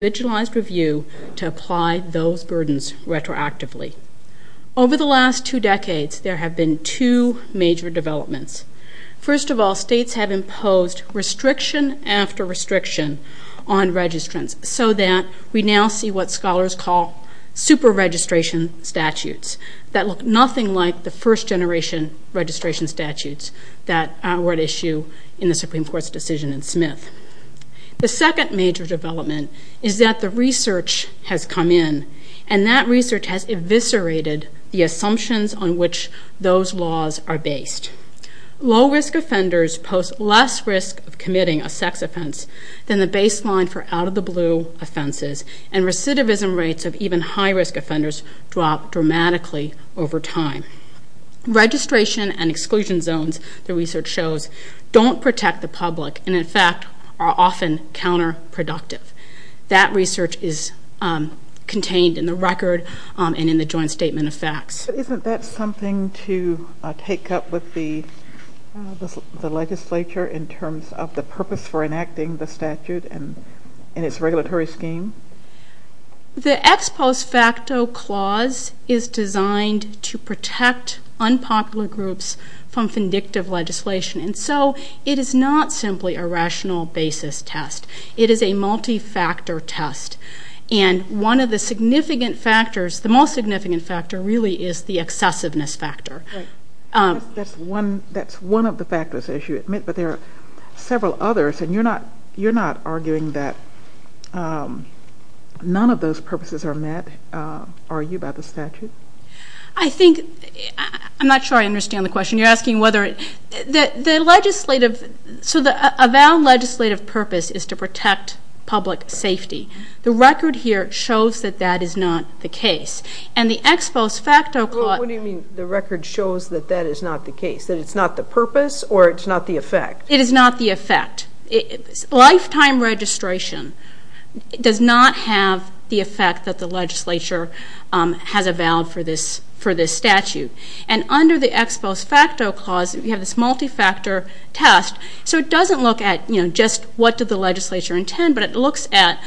review to apply those burdens retroactively. Over the last two decades, there have been two major developments. First of all, states have imposed restriction after restriction on registrants so that we now see what scholars call super-registration statutes that look nothing like the first-generation registration statutes that were at issue in the Supreme Court's decision in Smith. The second major development is that the research has come in, and that research has eviscerated the assumptions on which those laws are based. Low-risk offenders post less risk of committing a sex offense than the baseline for out-of-the-blue offenses, and recidivism rates of even high-risk offenders drop dramatically over time. Registration and exclusion zones, the research shows, don't protect the public and, in fact, are often counterproductive. That research is contained in the record and in the joint statement of facts. Isn't that something to take up with the legislature in terms of the purpose for enacting the statute and its regulatory scheme? The ex post facto clause is designed to protect unpopular groups from vindictive legislation, and so it is not simply a rational basis test. It is a multi-factor test, and one of the significant factors, the most significant factor, really is the excessiveness factor. Right. That's one of the factors, as you admit, but there are several others, and you're not arguing that none of those purposes are met, are you, by the statute? I think, I'm not sure I understand the question. You're asking whether, the legislative, so a valid legislative purpose is to protect public safety. The record here shows that that is not the case, and the ex post facto clause What do you mean the record shows that that is not the case, that it's not the purpose, or it's not the effect? It is not the effect. Lifetime registration does not have the effect that the legislature has avowed for this statute, and under the ex post facto clause, we have this multi-factor test, so it doesn't look at, you know, just what did the legislature intend, but it looks at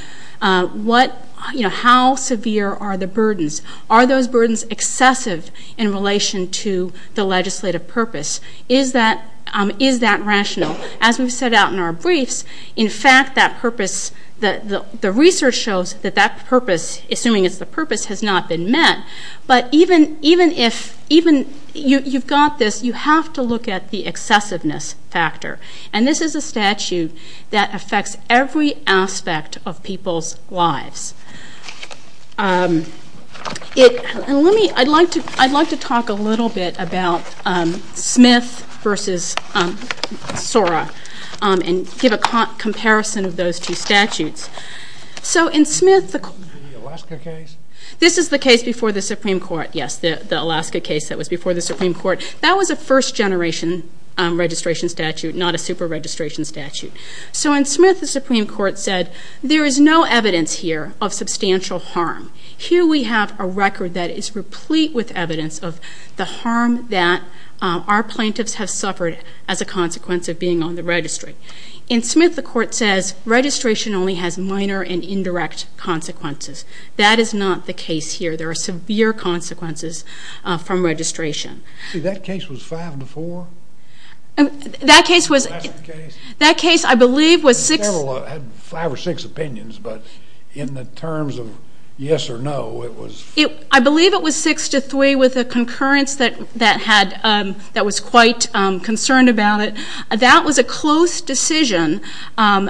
what, you know, how severe are the burdens. Are those burdens excessive in relation to the legislative purpose? Is that rational? As we've set out in our briefs, in fact, that purpose, the research shows that that purpose, assuming it's the purpose, has not been met, but even if, you've got this, you have to look at the excessiveness factor, and this is a statute that affects every aspect of people's lives. I'd like to talk a little bit about Smith versus Sora, and give a comparison of those two statutes. So in Smith, this is the case before the Supreme Court, yes, the Alaska case that was before the Supreme Court. That was a first generation registration statute, not a super registration statute. So in Smith, the Supreme Court said, there is no evidence here of substantial harm. Here we have a record that is replete with evidence of the harm that our plaintiffs have suffered as a consequence of being on the registry. In Smith, the court says, registration only has minor and indirect consequences. That is not the case here. There are severe consequences from registration. See, that case was five to four? That case was... Alaska case? That case, I believe, was six... I had five or six opinions, but in the terms of yes or no, it was... I believe it was six to three with a concurrence that was quite concerned about it. That was a close decision on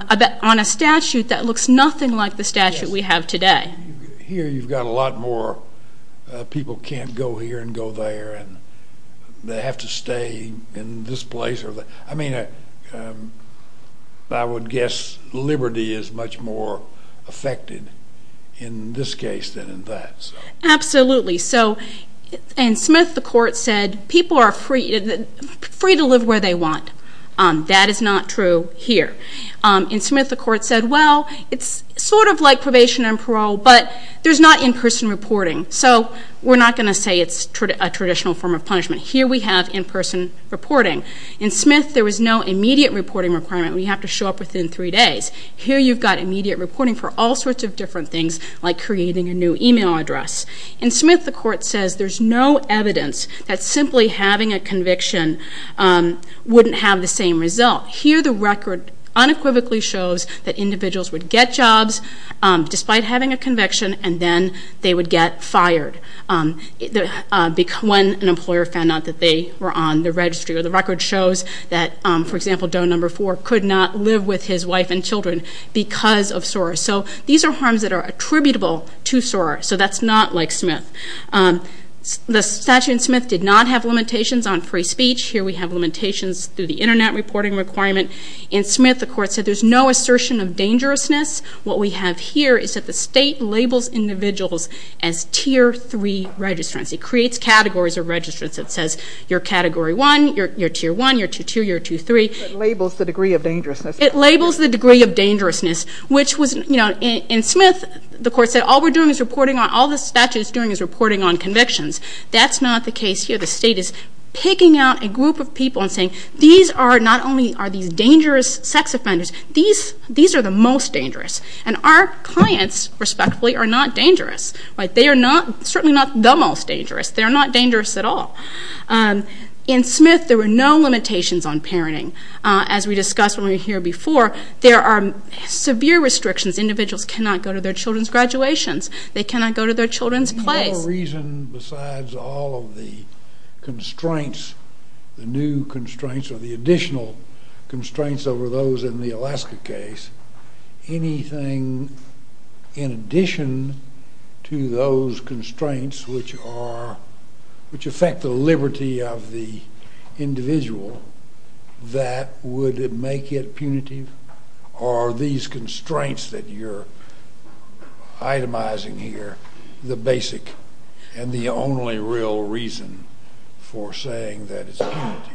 a statute that looks nothing like the statute we have today. Here you've got a lot more, people can't go here and go there, and they have to stay in this place. I mean, I would guess liberty is much more affected in this case than in that. Absolutely. So in Smith, the court said, people are free to live where they want. That is not true here. In Smith, the court said, well, it's sort of like probation and parole, but there's not in-person reporting. So we're not going to say it's a traditional form of In Smith, there was no immediate reporting requirement. We have to show up within three days. Here you've got immediate reporting for all sorts of different things, like creating a new email address. In Smith, the court says there's no evidence that simply having a conviction wouldn't have the same result. Here the record unequivocally shows that individuals would get jobs despite having a conviction, and then they would get fired when an employer found out that they were on the registry. Or the record shows that, for example, Doe No. 4 could not live with his wife and children because of SOAR. So these are harms that are attributable to SOAR, so that's not like Smith. The statute in Smith did not have limitations on free speech. Here we have limitations through the internet reporting requirement. In Smith, the court said there's no assertion of dangerousness. What we have here is that the state labels individuals as Tier 3 registrants. It creates categories of registrants. It says you're Category 1, you're Tier 1, you're Tier 2, you're Tier 3. It labels the degree of dangerousness. It labels the degree of dangerousness. In Smith, the court said all the statute is doing is reporting on convictions. That's not the case here. The state is picking out a group of people and saying, not only are these dangerous sex offenders, these are the most dangerous. Our clients, respectfully, are not dangerous. They are certainly not the most dangerous. They are not dangerous at all. In Smith, there were no limitations on parenting. As we discussed when we were here before, there are severe restrictions. Individuals cannot go to their children's graduations. They cannot go to their children's plays. Do you have a reason besides all of the constraints, the new constraints or the additional constraints over those in the Alaska case, anything in addition to those constraints which affect the liberty of the individual that would make it punitive? Are these constraints that you're itemizing here the basic and the only real reason for saying that it's punitive?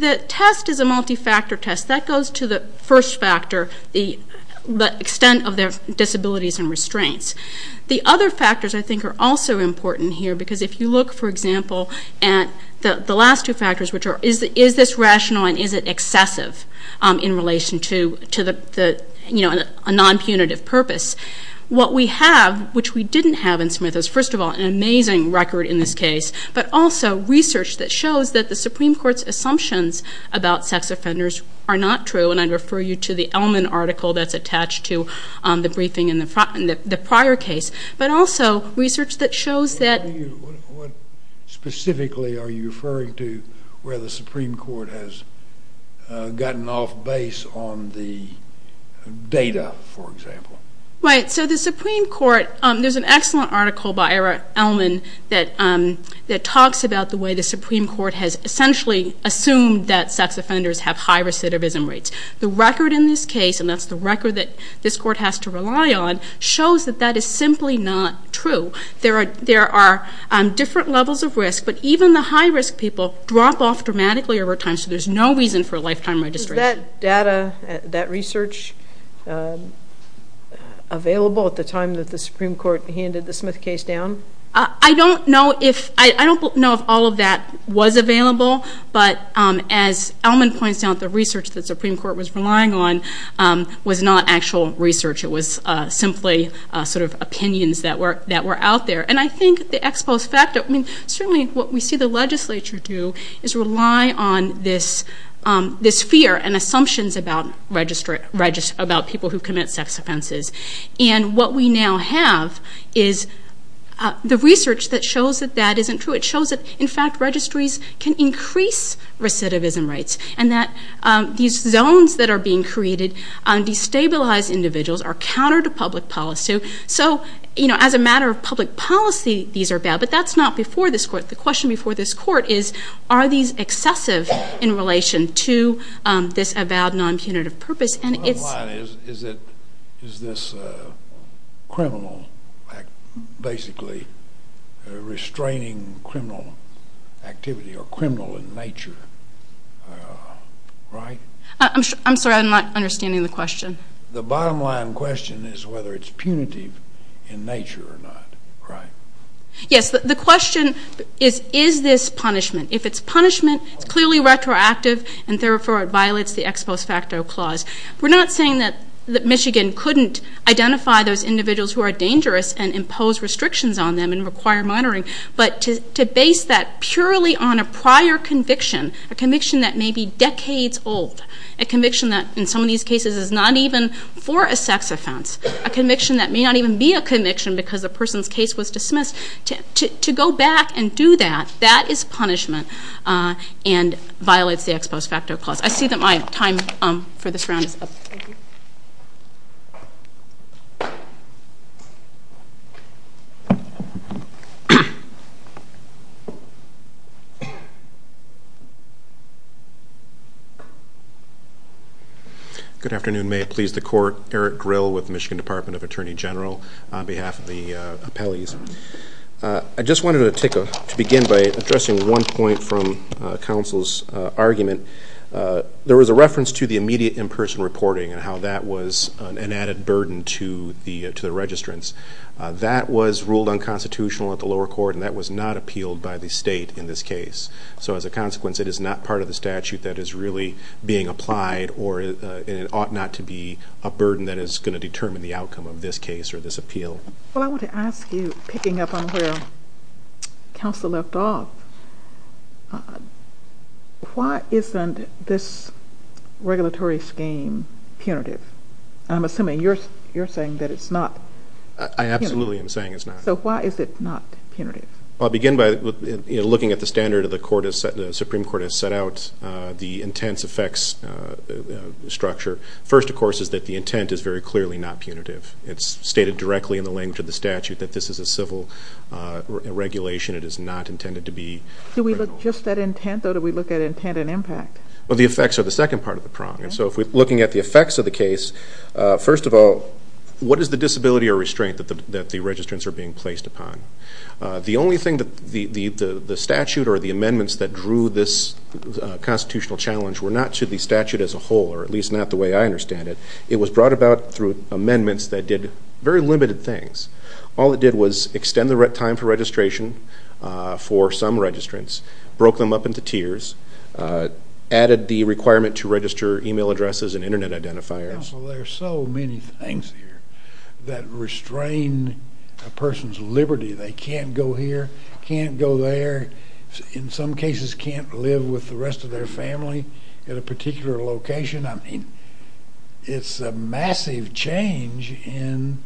The test is a multi-factor test. That goes to the first factor, the extent of their disabilities and restraints. The other factors, I think, are also important here because if you look, for example, at the last two factors, which are is this rational and is it excessive in relation to a non-punitive purpose, what we have, which we didn't have in Smith, is first case, but also research that shows that the Supreme Court's assumptions about sex offenders are not true, and I refer you to the Ellman article that's attached to the briefing in the prior case, but also research that shows that... What specifically are you referring to where the Supreme Court has gotten off base on the data, for example? Right, so the Supreme Court, there's an excellent article by Ellman that talks about the way the Supreme Court has essentially assumed that sex offenders have high recidivism rates. The record in this case, and that's the record that this court has to rely on, shows that that is simply not true. There are different levels of risk, but even the high-risk people drop off dramatically over time, so there's no reason for a lifetime registration. Was that data, that research, available at the time that the Supreme Court handed the Smith case down? I don't know if all of that was available, but as Ellman points out, the research that the Supreme Court was relying on was not actual research. It was simply opinions that were out there, and I think the ex post facto... and assumptions about people who commit sex offenses. And what we now have is the research that shows that that isn't true. It shows that, in fact, registries can increase recidivism rates, and that these zones that are being created on destabilized individuals are counter to public policy. So as a matter of public policy, these are bad, but that's not before this court. The question before this court is, are these excessive in relation to this avowed non-punitive purpose, and it's... The bottom line is, is this criminal, basically, restraining criminal activity, or criminal in nature, right? I'm sorry, I'm not understanding the question. The bottom line question is whether it's punitive in nature or not, right? Yes, the question is, is this punishment? If it's punishment, it's clearly retroactive, and therefore it violates the ex post facto clause. We're not saying that Michigan couldn't identify those individuals who are dangerous and impose restrictions on them and require monitoring, but to base that purely on a prior conviction, a conviction that may be decades old, a conviction that, in some of these cases, is not even for a sex offense, a conviction that may not even be a conviction because a person's case was dismissed, to go back and do that, that is punishment and violates the ex post facto clause. I see that my time for this round is up. Thank you. Good afternoon. May it please the Court. Eric Grill with Michigan Department of Attorney General on behalf of the appellees. I just wanted to begin by addressing one point from counsel's argument. There was a reference to the immediate in-person reporting and how that was an added burden to the registrants. That was ruled unconstitutional at the lower court, and that was not appealed by the state in this case. So, as a consequence, it is not part of the statute that is really being applied, or it ought not to be a burden that is going to determine the outcome of this case or this appeal. Well, I want to ask you, picking up on where counsel left off, why isn't this regulatory scheme punitive? I'm assuming you're saying that it's not. I absolutely am saying it's not. So, why is it not punitive? Well, I'll begin by looking at the standard that the Supreme Court has set out, the intense effects structure. First, of course, is that the intent is very clearly not punitive. It's stated directly in the language of the statute that this is a civil regulation. It is not intended to be criminal. Do we look just at intent, or do we look at intent and impact? Well, the effects are the second part of the prong. So, looking at the effects of the case, first of all, what is the disability or restraint that the registrants are being placed upon? The only thing that the statute or the amendments that drew this constitutional challenge were not to the statute as a whole, or at least not the way I understand it. It was brought about through amendments that did very limited things. All it did was extend the time for registration for some registrants, broke them up into tiers, added the requirement to register email addresses and internet identifiers. Counsel, there are so many things here that restrain a person's liberty. They can't go here, can't go there, in some cases can't live with the rest of their family at a particular location. I mean, it's a massive change in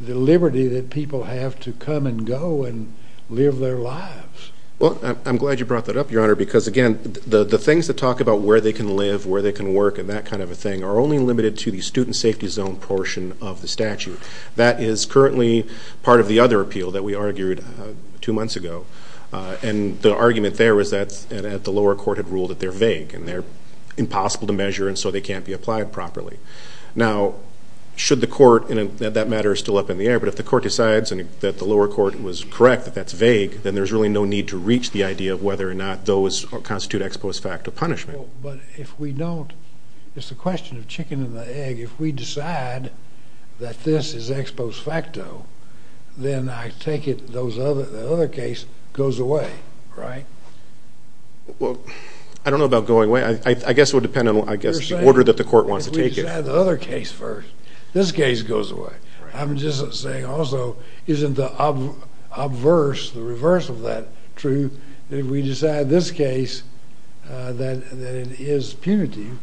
the liberty that people have to come and go and live their lives. Well, I'm glad you brought that up, Your Honor, because, again, the things that talk about where they can live, where they can work and that kind of a thing are only limited to the student safety zone portion of the statute. That is currently part of the other appeal that we argued two months ago, and the argument there was that the lower court had ruled that and they're impossible to measure and so they can't be applied properly. Now, should the court, and that matter is still up in the air, but if the court decides that the lower court was correct, that that's vague, then there's really no need to reach the idea of whether or not those constitute ex post facto punishment. But if we don't, it's the question of chicken and the egg. If we decide that this is ex post facto, then I take it the other case goes away, right? Well, I don't know about going away. I guess it would depend on, I guess, the order that the court wants to take it. You're saying if we decide the other case first, this case goes away. I'm just saying also, isn't the obverse, the reverse of that true, that if we decide this case that it is punitive,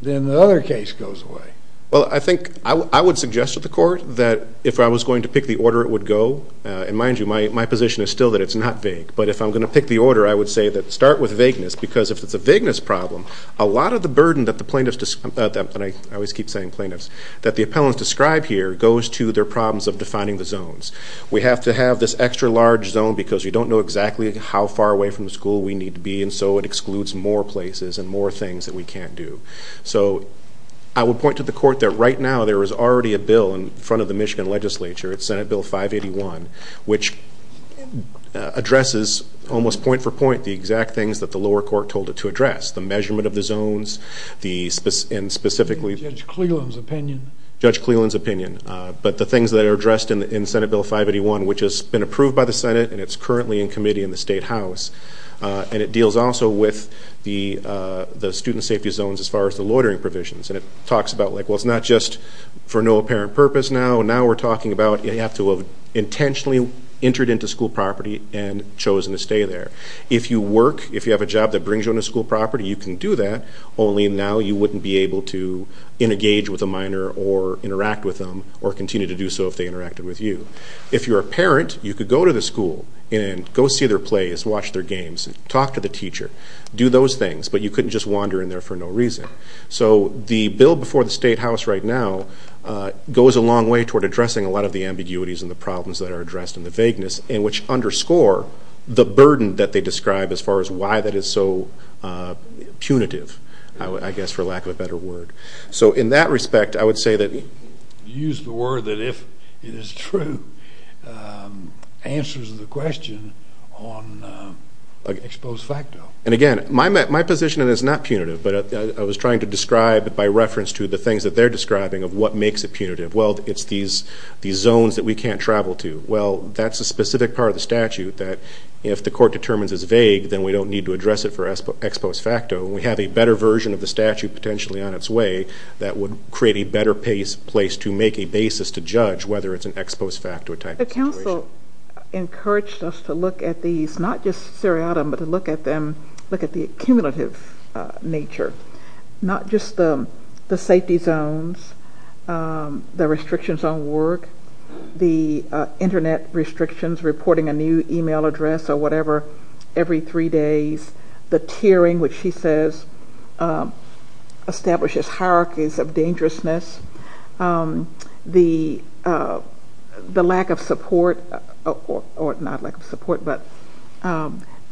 then the other case goes away? Well, I think I would suggest to the court that if I was going to pick the order it would mind you, my position is still that it's not vague. But if I'm going to pick the order, I would say that start with vagueness, because if it's a vagueness problem, a lot of the burden that the plaintiffs, and I always keep saying plaintiffs, that the appellants describe here goes to their problems of defining the zones. We have to have this extra large zone because you don't know exactly how far away from the school we need to be, and so it excludes more places and more things that we can't do. So, I would point to the court that right now there is already a bill in front of the Senate, Senate Bill 581, which addresses, almost point for point, the exact things that the lower court told it to address. The measurement of the zones, and specifically... Judge Cleland's opinion. Judge Cleland's opinion. But the things that are addressed in Senate Bill 581, which has been approved by the Senate, and it's currently in committee in the State House, and it deals also with the student safety zones as far as the loitering provisions. And it talks about, well, it's not just for no apparent purpose now, now we're talking about you have to have intentionally entered into school property and chosen to stay there. If you work, if you have a job that brings you into school property, you can do that, only now you wouldn't be able to engage with a minor or interact with them, or continue to do so if they interacted with you. If you're a parent, you could go to the school and go see their plays, watch their games, talk to the teacher, do those things, but you couldn't just wander in there for no reason. So, the bill before the State House right now goes a long way toward addressing a lot of the ambiguities and the problems that are addressed in the vagueness, and which underscore the burden that they describe as far as why that is so punitive, I guess for lack of a better word. So, in that respect, I would say that... You used the word that if it is true, answers the question on ex post facto. And again, my position is not punitive, but I was trying to describe by reference to the zones that we can't travel to. Well, that's a specific part of the statute that if the court determines it's vague, then we don't need to address it for ex post facto. We have a better version of the statute potentially on its way that would create a better place to make a basis to judge whether it's an ex post facto type of situation. The council encouraged us to look at these, not just seriatim, but to look at the accumulative nature, not just the safety zones, the restrictions on work, the internet restrictions, reporting a new email address or whatever every three days, the tiering, which she says establishes hierarchies of dangerousness, the lack of support, or not lack of support, but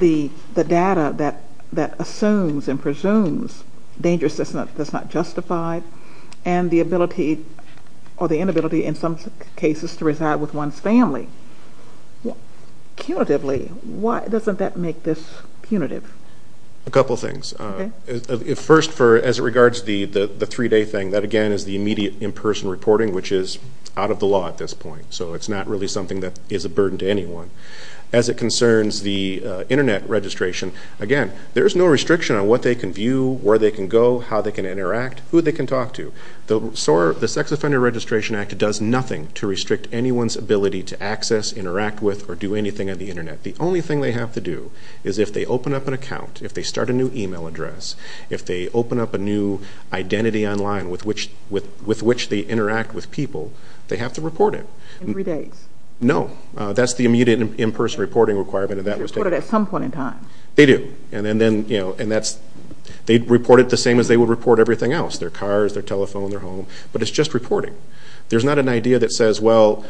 the data that assumes and presumes dangerousness that's not justified, and the ability or the inability in some cases to reside with one's family. Punitively, why doesn't that make this punitive? A couple things. First, as it regards the three day thing, that again is the immediate in-person reporting, which is out of the law at this point, so it's not really something that is a burden to anyone. As it concerns the internet registration, again, there's no restriction on what they can view, where they can go, how they can interact, who they can talk to. The Sex Offender Registration Act does nothing to restrict anyone's ability to access, interact with, or do anything on the internet. The only thing they have to do is if they open up an account, if they start a new email address, if they open up a new identity online with which they interact with people, they have to report it. Every day? No. That's the immediate in-person reporting requirement. They report it at some point in time? They do. They report it the same as they would report everything else, their cars, their telephone, their home, but it's just reporting. There's not an idea that says, well,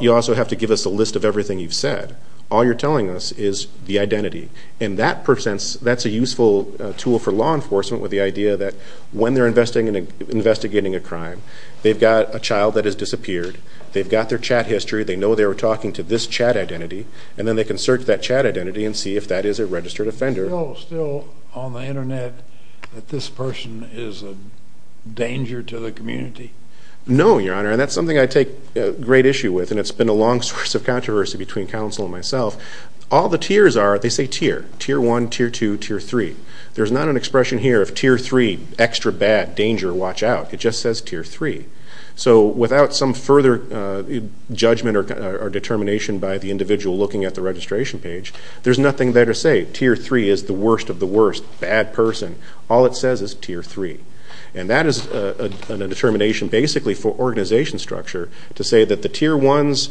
you also have to give us a list of everything you've said. All you're telling us is the identity, and that's a useful tool for law enforcement with the idea that when they're investigating a crime, they've got a child that has disappeared, they've got their chat history, they know they were talking to this chat identity, and then they can search that chat identity and see if that is a registered offender. Is it still on the internet that this person is a danger to the community? No, Your Honor, and that's something I take great issue with, and it's been a long source of controversy between counsel and myself. All the tiers are, they say tier. Tier 1, Tier 2, Tier 3. There's not an expression here of Tier 3, extra bad, danger, watch out. It just says Tier 3. So without some further judgment or determination by the individual looking at the registration page, there's nothing there to say. Tier 3 is the worst of the worst, bad person. All it says is Tier 3, and that is a determination basically for organization structure to say that the Tier 1s,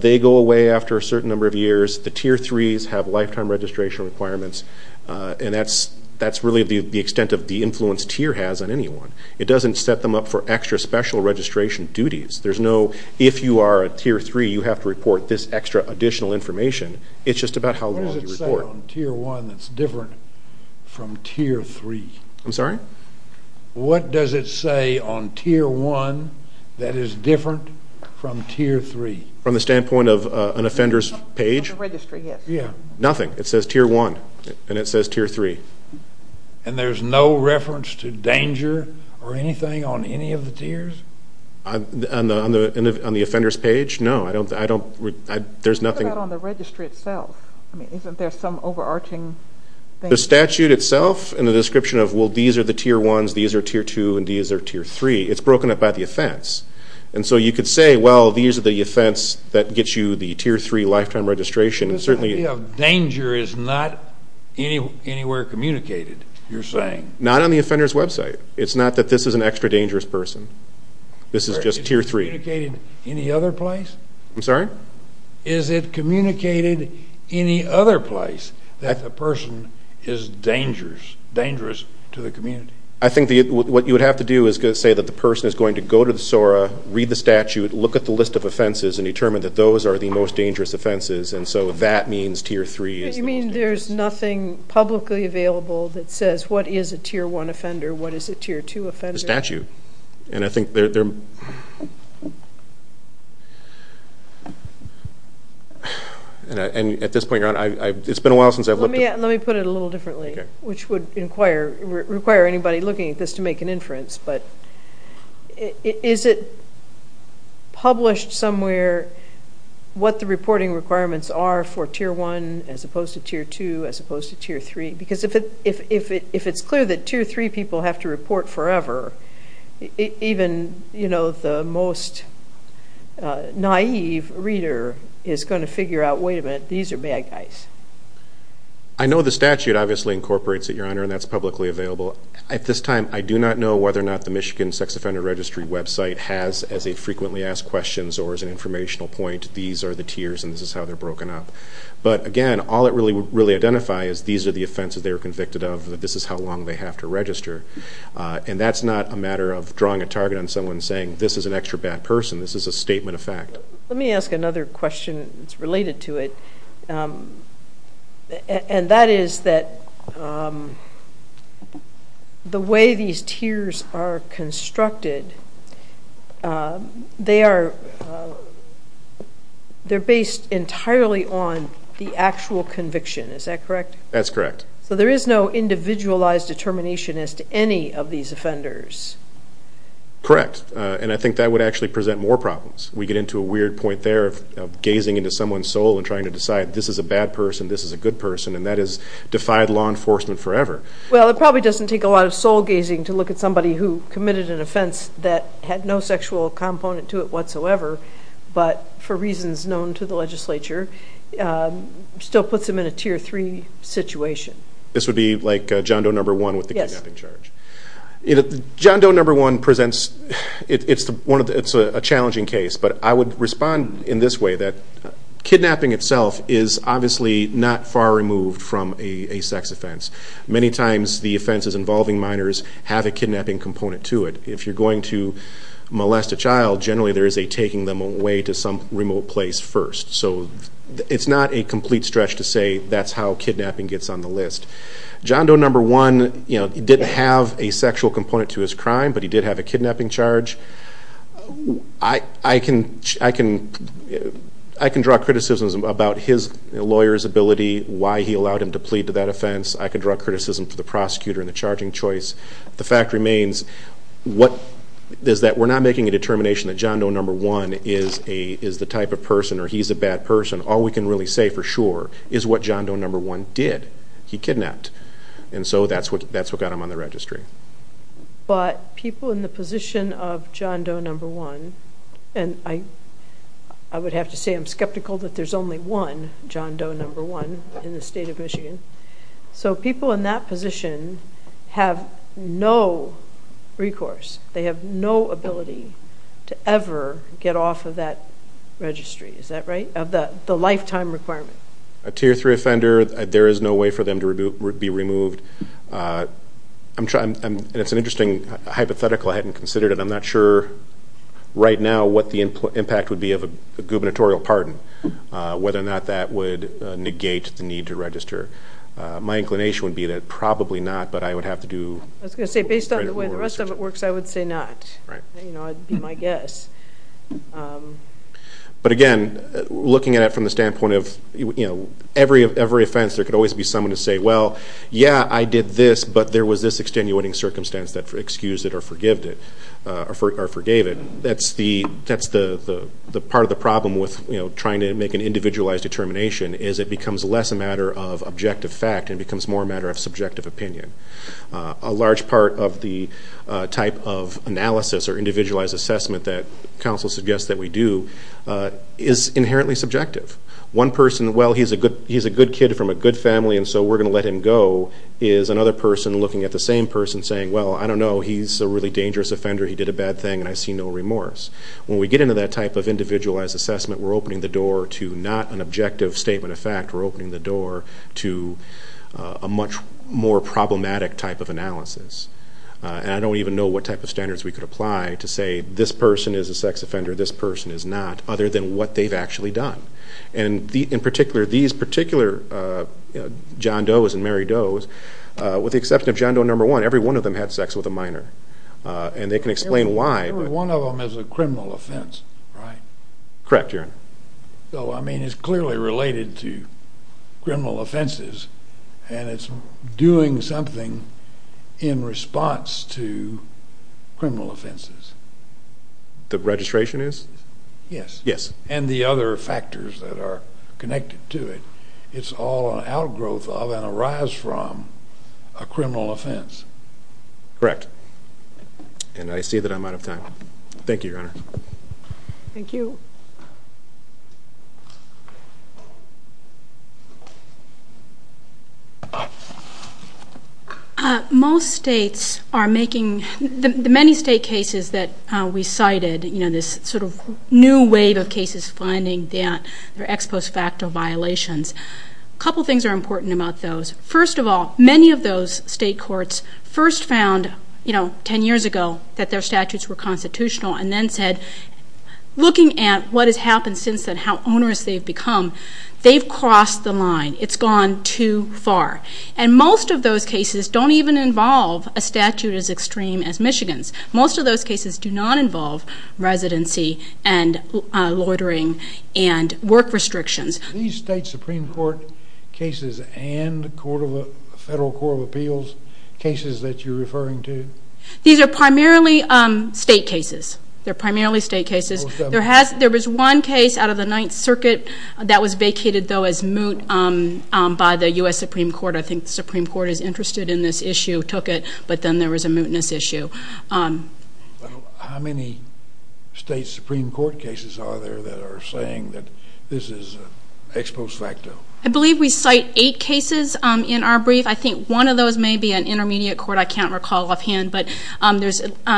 they go away after a certain number of years. The Tier 3s have lifetime registration requirements, and that's really the extent of the influence Tier has on anyone. It doesn't set them up for extra special registration duties. There's no, if you are a Tier 3, you have to report this extra additional information. It's just about how long you report. What does it say on Tier 1 that's different from Tier 3? I'm sorry? What does it say on Tier 1 that is different from Tier 3? From the standpoint of an offender's page? On the registry, yes. Nothing. It says Tier 1, and it says Tier 3. And there's no reference to danger or anything on any of the tiers? On the offender's page? No, I don't, there's nothing. What about on the registry itself? I mean, isn't there some overarching thing? The statute itself, in the description of, well, these are the Tier 1s, these are Tier 2, and these are Tier 3, it's broken up by the offense. And so you could say, well, these are the offense that gets you the Tier 3 lifetime registration. This idea of danger is not anywhere communicated, you're saying? Not on the offender's website. It's not that this is an extra dangerous person. This is just Tier 3. Is it communicated any other place? I'm sorry? Is it communicated any other place that the person is dangerous, dangerous to the community? I think what you would have to do is say that the person is going to go to the SORA, read the statute, look at the list of offenses and determine that those are the most dangerous offenses, and so that means Tier 3 is the most dangerous. You mean there's nothing publicly available that says what is a Tier 1 offender, what is a Tier 2 offender? And I think there... And at this point, Your Honor, it's been a while since I've looked at... Let me put it a little differently, which would require anybody looking at this to make an inference, but is it published somewhere what the reporting requirements are for Tier 1 as opposed to Tier 2 as opposed to Tier 3? Because if it's clear that Tier 3 people have to report forever, even the most naive reader is going to figure out, wait a minute, these are bad guys. I know the statute obviously incorporates it, Your Honor, and that's publicly available. At this time, I do not know whether or not the Michigan Sex Offender Registry website has, as a frequently asked question or as an informational point, these are the tiers and this is how they're broken up. But again, all it would really identify is these are the offenses they were convicted of, this is how long they have to register, and that's not a matter of drawing a target on someone saying this is an extra bad person, this is a statement of fact. Let me ask another question that's related to it, and that is that the way these tiers are constructed, they are based entirely on the actual conviction, is that correct? That's correct. So there is no individualized determination as to any of these offenders? Correct, and I think that would actually present more problems. We get into a weird point there of gazing into someone's soul and trying to decide this is a bad person, this is a good person, and that has defied law enforcement forever. Well, it probably doesn't take a lot of soul-gazing to look at somebody who committed an offense that had no sexual component to it whatsoever, but for reasons known to the legislature, it still puts them in a Tier 3 situation. This would be like John Doe No. 1 with the kidnapping charge. Yes. John Doe No. 1 presents a challenging case, but I would respond in this way, that kidnapping itself is obviously not far removed from a sex offense. Many times the offenses involving minors have a kidnapping component to it. If you're going to molest a child, generally there is a taking them away to some remote place first. So it's not a complete stretch to say that's how kidnapping gets on the list. John Doe No. 1 didn't have a sexual component to his crime, but he did have a kidnapping charge. I can draw criticism about his lawyer's ability, why he allowed him to plead to that offense. I can draw criticism for the prosecutor and the charging choice. The fact remains that we're not making a determination that John Doe No. 1 is the type of person or he's a bad person. All we can really say for sure is what John Doe No. 1 did. He kidnapped. And so that's what got him on the registry. But people in the position of John Doe No. 1, and I would have to say I'm skeptical that there's only one John Doe No. 1 in the state of Michigan. So people in that position have no recourse. They have no ability to ever get off of that registry. Is that right? Of the lifetime requirement. A Tier 3 offender, there is no way for them to be removed. It's an interesting hypothetical I hadn't considered, and I'm not sure right now what the impact would be of a gubernatorial pardon, whether or not that would negate the need to register. My inclination would be that probably not, but I would have to do more research. I was going to say, based on the way the rest of it works, I would say not. That would be my guess. But again, looking at it from the standpoint of every offense, there could always be someone to say, well, yeah, I did this, but there was this extenuating circumstance that excused it or forgave it. That's the part of the problem with trying to make an individualized determination, is it becomes less a matter of objective fact and becomes more a matter of subjective opinion. A large part of the type of analysis or individualized assessment that counsel suggests that we do is inherently subjective. One person, well, he's a good kid from a good family, and so we're going to let him go, is another person looking at the same person saying, well, I don't know, he's a really dangerous offender, he did a bad thing, and I see no remorse. When we get into that type of individualized assessment, we're opening the door to not an objective statement of fact. We're opening the door to a much more problematic type of analysis. I don't even know what type of standards we could apply to say this person is a sex offender, this person is not, other than what they've actually done. In particular, these particular John Doe's and Mary Doe's, with the exception of John Doe number one, every one of them had sex with a minor, and they can explain why. Every one of them is a criminal offense, right? Correct, Your Honor. So, I mean, it's clearly related to criminal offenses, and it's doing something in response to criminal offenses. The registration is? Yes. Yes. And the other factors that are connected to it, it's all an outgrowth of and a rise from a criminal offense. Correct. And I see that I'm out of time. Thank you, Your Honor. Thank you. Thank you. Most states are making the many state cases that we cited, you know, this sort of new wave of cases finding their ex post facto violations. A couple things are important about those. First of all, many of those state courts first found, you know, that their statutes were constitutional and then said, looking at what has happened since then, how onerous they've become, they've crossed the line. It's gone too far. And most of those cases don't even involve a statute as extreme as Michigan's. Most of those cases do not involve residency and loitering and work restrictions. Are these state Supreme Court cases and the Federal Court of Appeals cases that you're referring to? These are primarily state cases. They're primarily state cases. There was one case out of the Ninth Circuit that was vacated, though, as moot by the U.S. Supreme Court. I think the Supreme Court is interested in this issue, took it, but then there was a mootness issue. How many state Supreme Court cases are there that are saying that this is ex post facto? I believe we cite eight cases in our brief. I think one of those may be an intermediate court. I can't recall offhand. But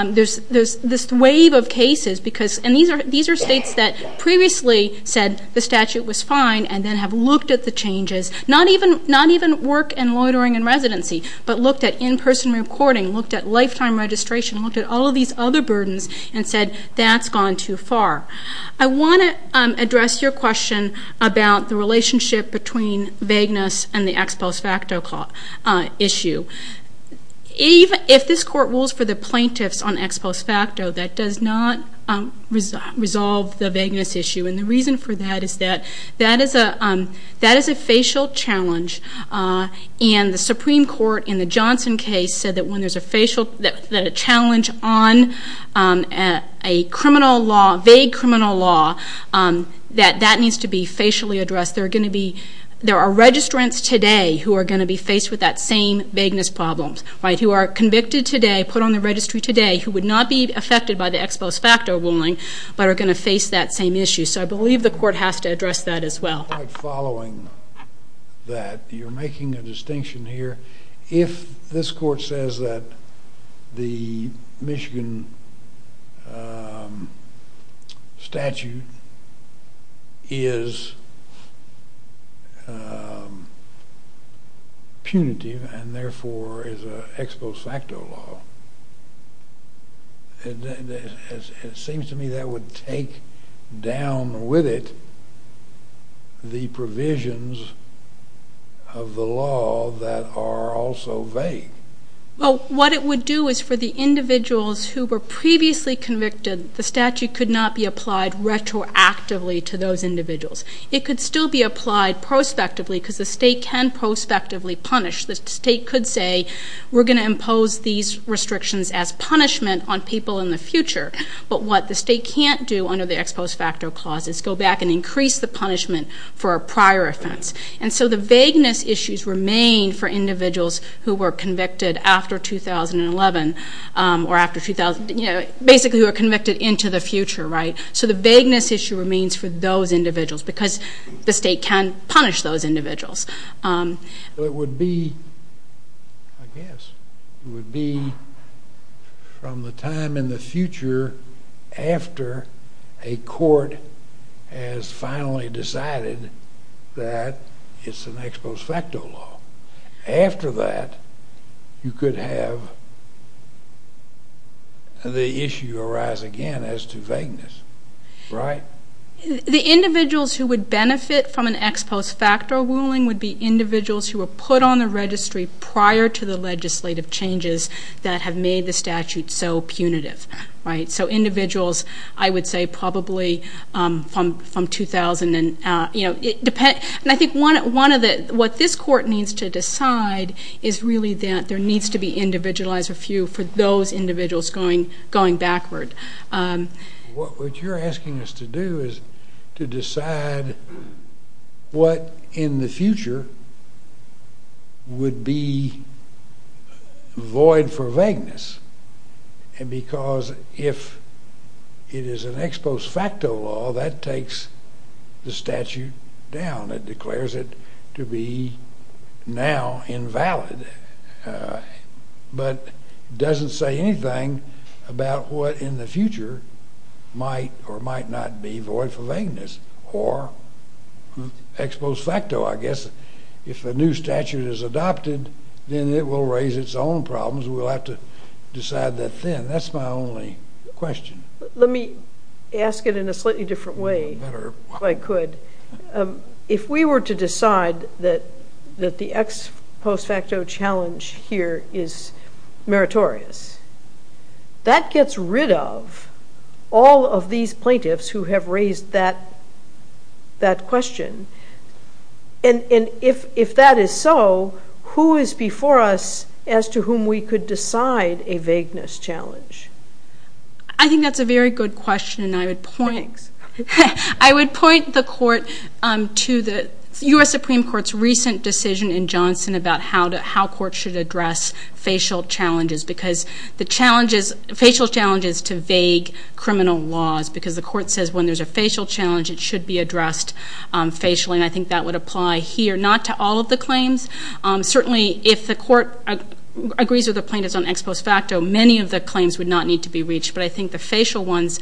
there's this wave of cases because, and these are states that previously said the statute was fine and then have looked at the changes, not even work and loitering and residency, but looked at in-person recording, looked at lifetime registration, looked at all of these other burdens and said that's gone too far. I want to address your question about the relationship between vagueness and the ex post facto issue. If this court rules for the plaintiffs on ex post facto, that does not resolve the vagueness issue. And the reason for that is that that is a facial challenge, and the Supreme Court in the Johnson case said that when there's a challenge on a criminal law, vague criminal law, that that needs to be facially addressed. There are registrants today who are going to be faced with that same vagueness problem, right, who are convicted today, put on the registry today, who would not be affected by the ex post facto ruling but are going to face that same issue. So I believe the court has to address that as well. I'm quite following that. You're making a distinction here. If this court says that the Michigan statute is punitive and therefore is an ex post facto law, it seems to me that would take down with it the provisions of the law that are also vague. Well, what it would do is for the individuals who were previously convicted, the statute could not be applied retroactively to those individuals. It could still be applied prospectively because the state can prospectively punish. The state could say we're going to impose these restrictions as punishment on people in the future, but what the state can't do under the ex post facto clause is go back and increase the punishment for a prior offense. And so the vagueness issues remain for individuals who were convicted after 2011 or basically who are convicted into the future, right? So the vagueness issue remains for those individuals because the state can punish those individuals. Well, it would be, I guess, it would be from the time in the future after a court has finally decided that it's an ex post facto law. After that, you could have the issue arise again as to vagueness, right? The individuals who would benefit from an ex post facto ruling would be individuals who were put on the registry prior to the legislative changes that have made the statute so punitive, right? So individuals, I would say, probably from 2000 and, you know, it depends. And I think one of the, what this court needs to decide is really that there needs to be individualized for those individuals going backward. What you're asking us to do is to decide what in the future would be void for vagueness because if it is an ex post facto law, that takes the statute down. It declares it to be now invalid but doesn't say anything about what in the future might or might not be void for vagueness or ex post facto, I guess. If a new statute is adopted, then it will raise its own problems. We'll have to decide that then. That's my only question. Let me ask it in a slightly different way if I could. If we were to decide that the ex post facto challenge here is meritorious, that gets rid of all of these plaintiffs who have raised that question. And if that is so, who is before us as to whom we could decide a vagueness challenge? I think that's a very good question and I would point, I would point the court to the U.S. Supreme Court's recent decision in Johnson about how courts should address facial challenges because the challenges, facial challenges to vague criminal laws because the court says when there's a facial challenge, it should be addressed facially and I think that would apply here, not to all of the claims. Certainly, if the court agrees with the plaintiffs on ex post facto, many of the claims would not need to be reached, but I think the facial ones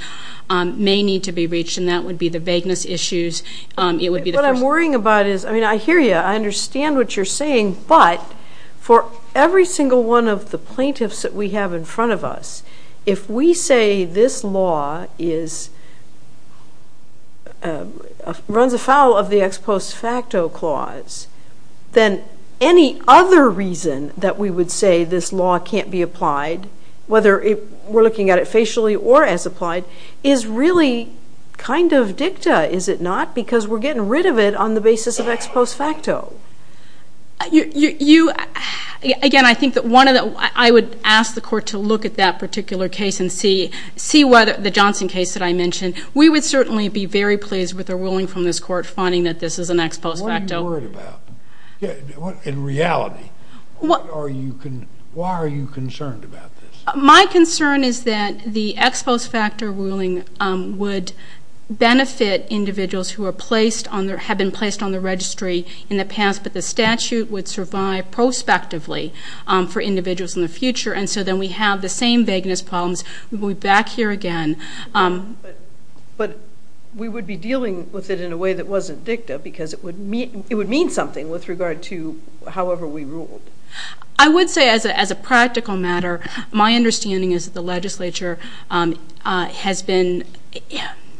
may need to be reached and that would be the vagueness issues. What I'm worrying about is, I mean, I hear you, I understand what you're saying, but for every single one of the plaintiffs that we have in front of us, if we say this law runs afoul of the ex post facto clause, then any other reason that we would say this law can't be applied, whether we're looking at it facially or as applied, is really kind of dicta, is it not? Because we're getting rid of it on the basis of ex post facto. You, again, I think that one of the, I would ask the court to look at that particular case and see what the Johnson case that I mentioned, we would certainly be very pleased with the ruling from this court finding that this is an ex post facto. What are you worried about? In reality, why are you concerned about this? My concern is that the ex post facto ruling would benefit individuals who have been placed on the registry in the past, but the statute would survive prospectively for individuals in the future, and so then we have the same vagueness problems when we're back here again. But we would be dealing with it in a way that wasn't dicta, because it would mean something with regard to however we ruled. I would say as a practical matter, my understanding is that the legislature has been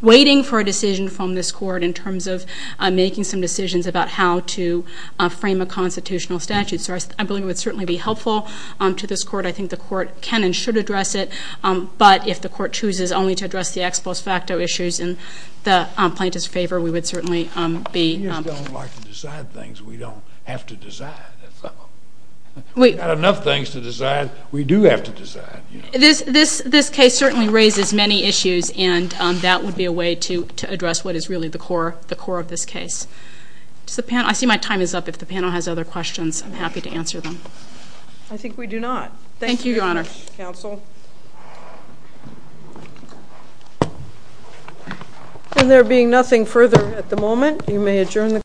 waiting for a decision from this court in terms of making some decisions about how to frame a constitutional statute, so I believe it would certainly be helpful to this court. I think the court can and should address it, but if the court chooses only to address the ex post facto issues in the plaintiff's favor, we would certainly be. We just don't like to decide things we don't have to decide. We've got enough things to decide we do have to decide. This case certainly raises many issues, and that would be a way to address what is really the core of this case. I see my time is up. If the panel has other questions, I'm happy to answer them. I think we do not. Thank you, Your Honor. Thank you very much, counsel. There being nothing further at the moment, you may adjourn the court.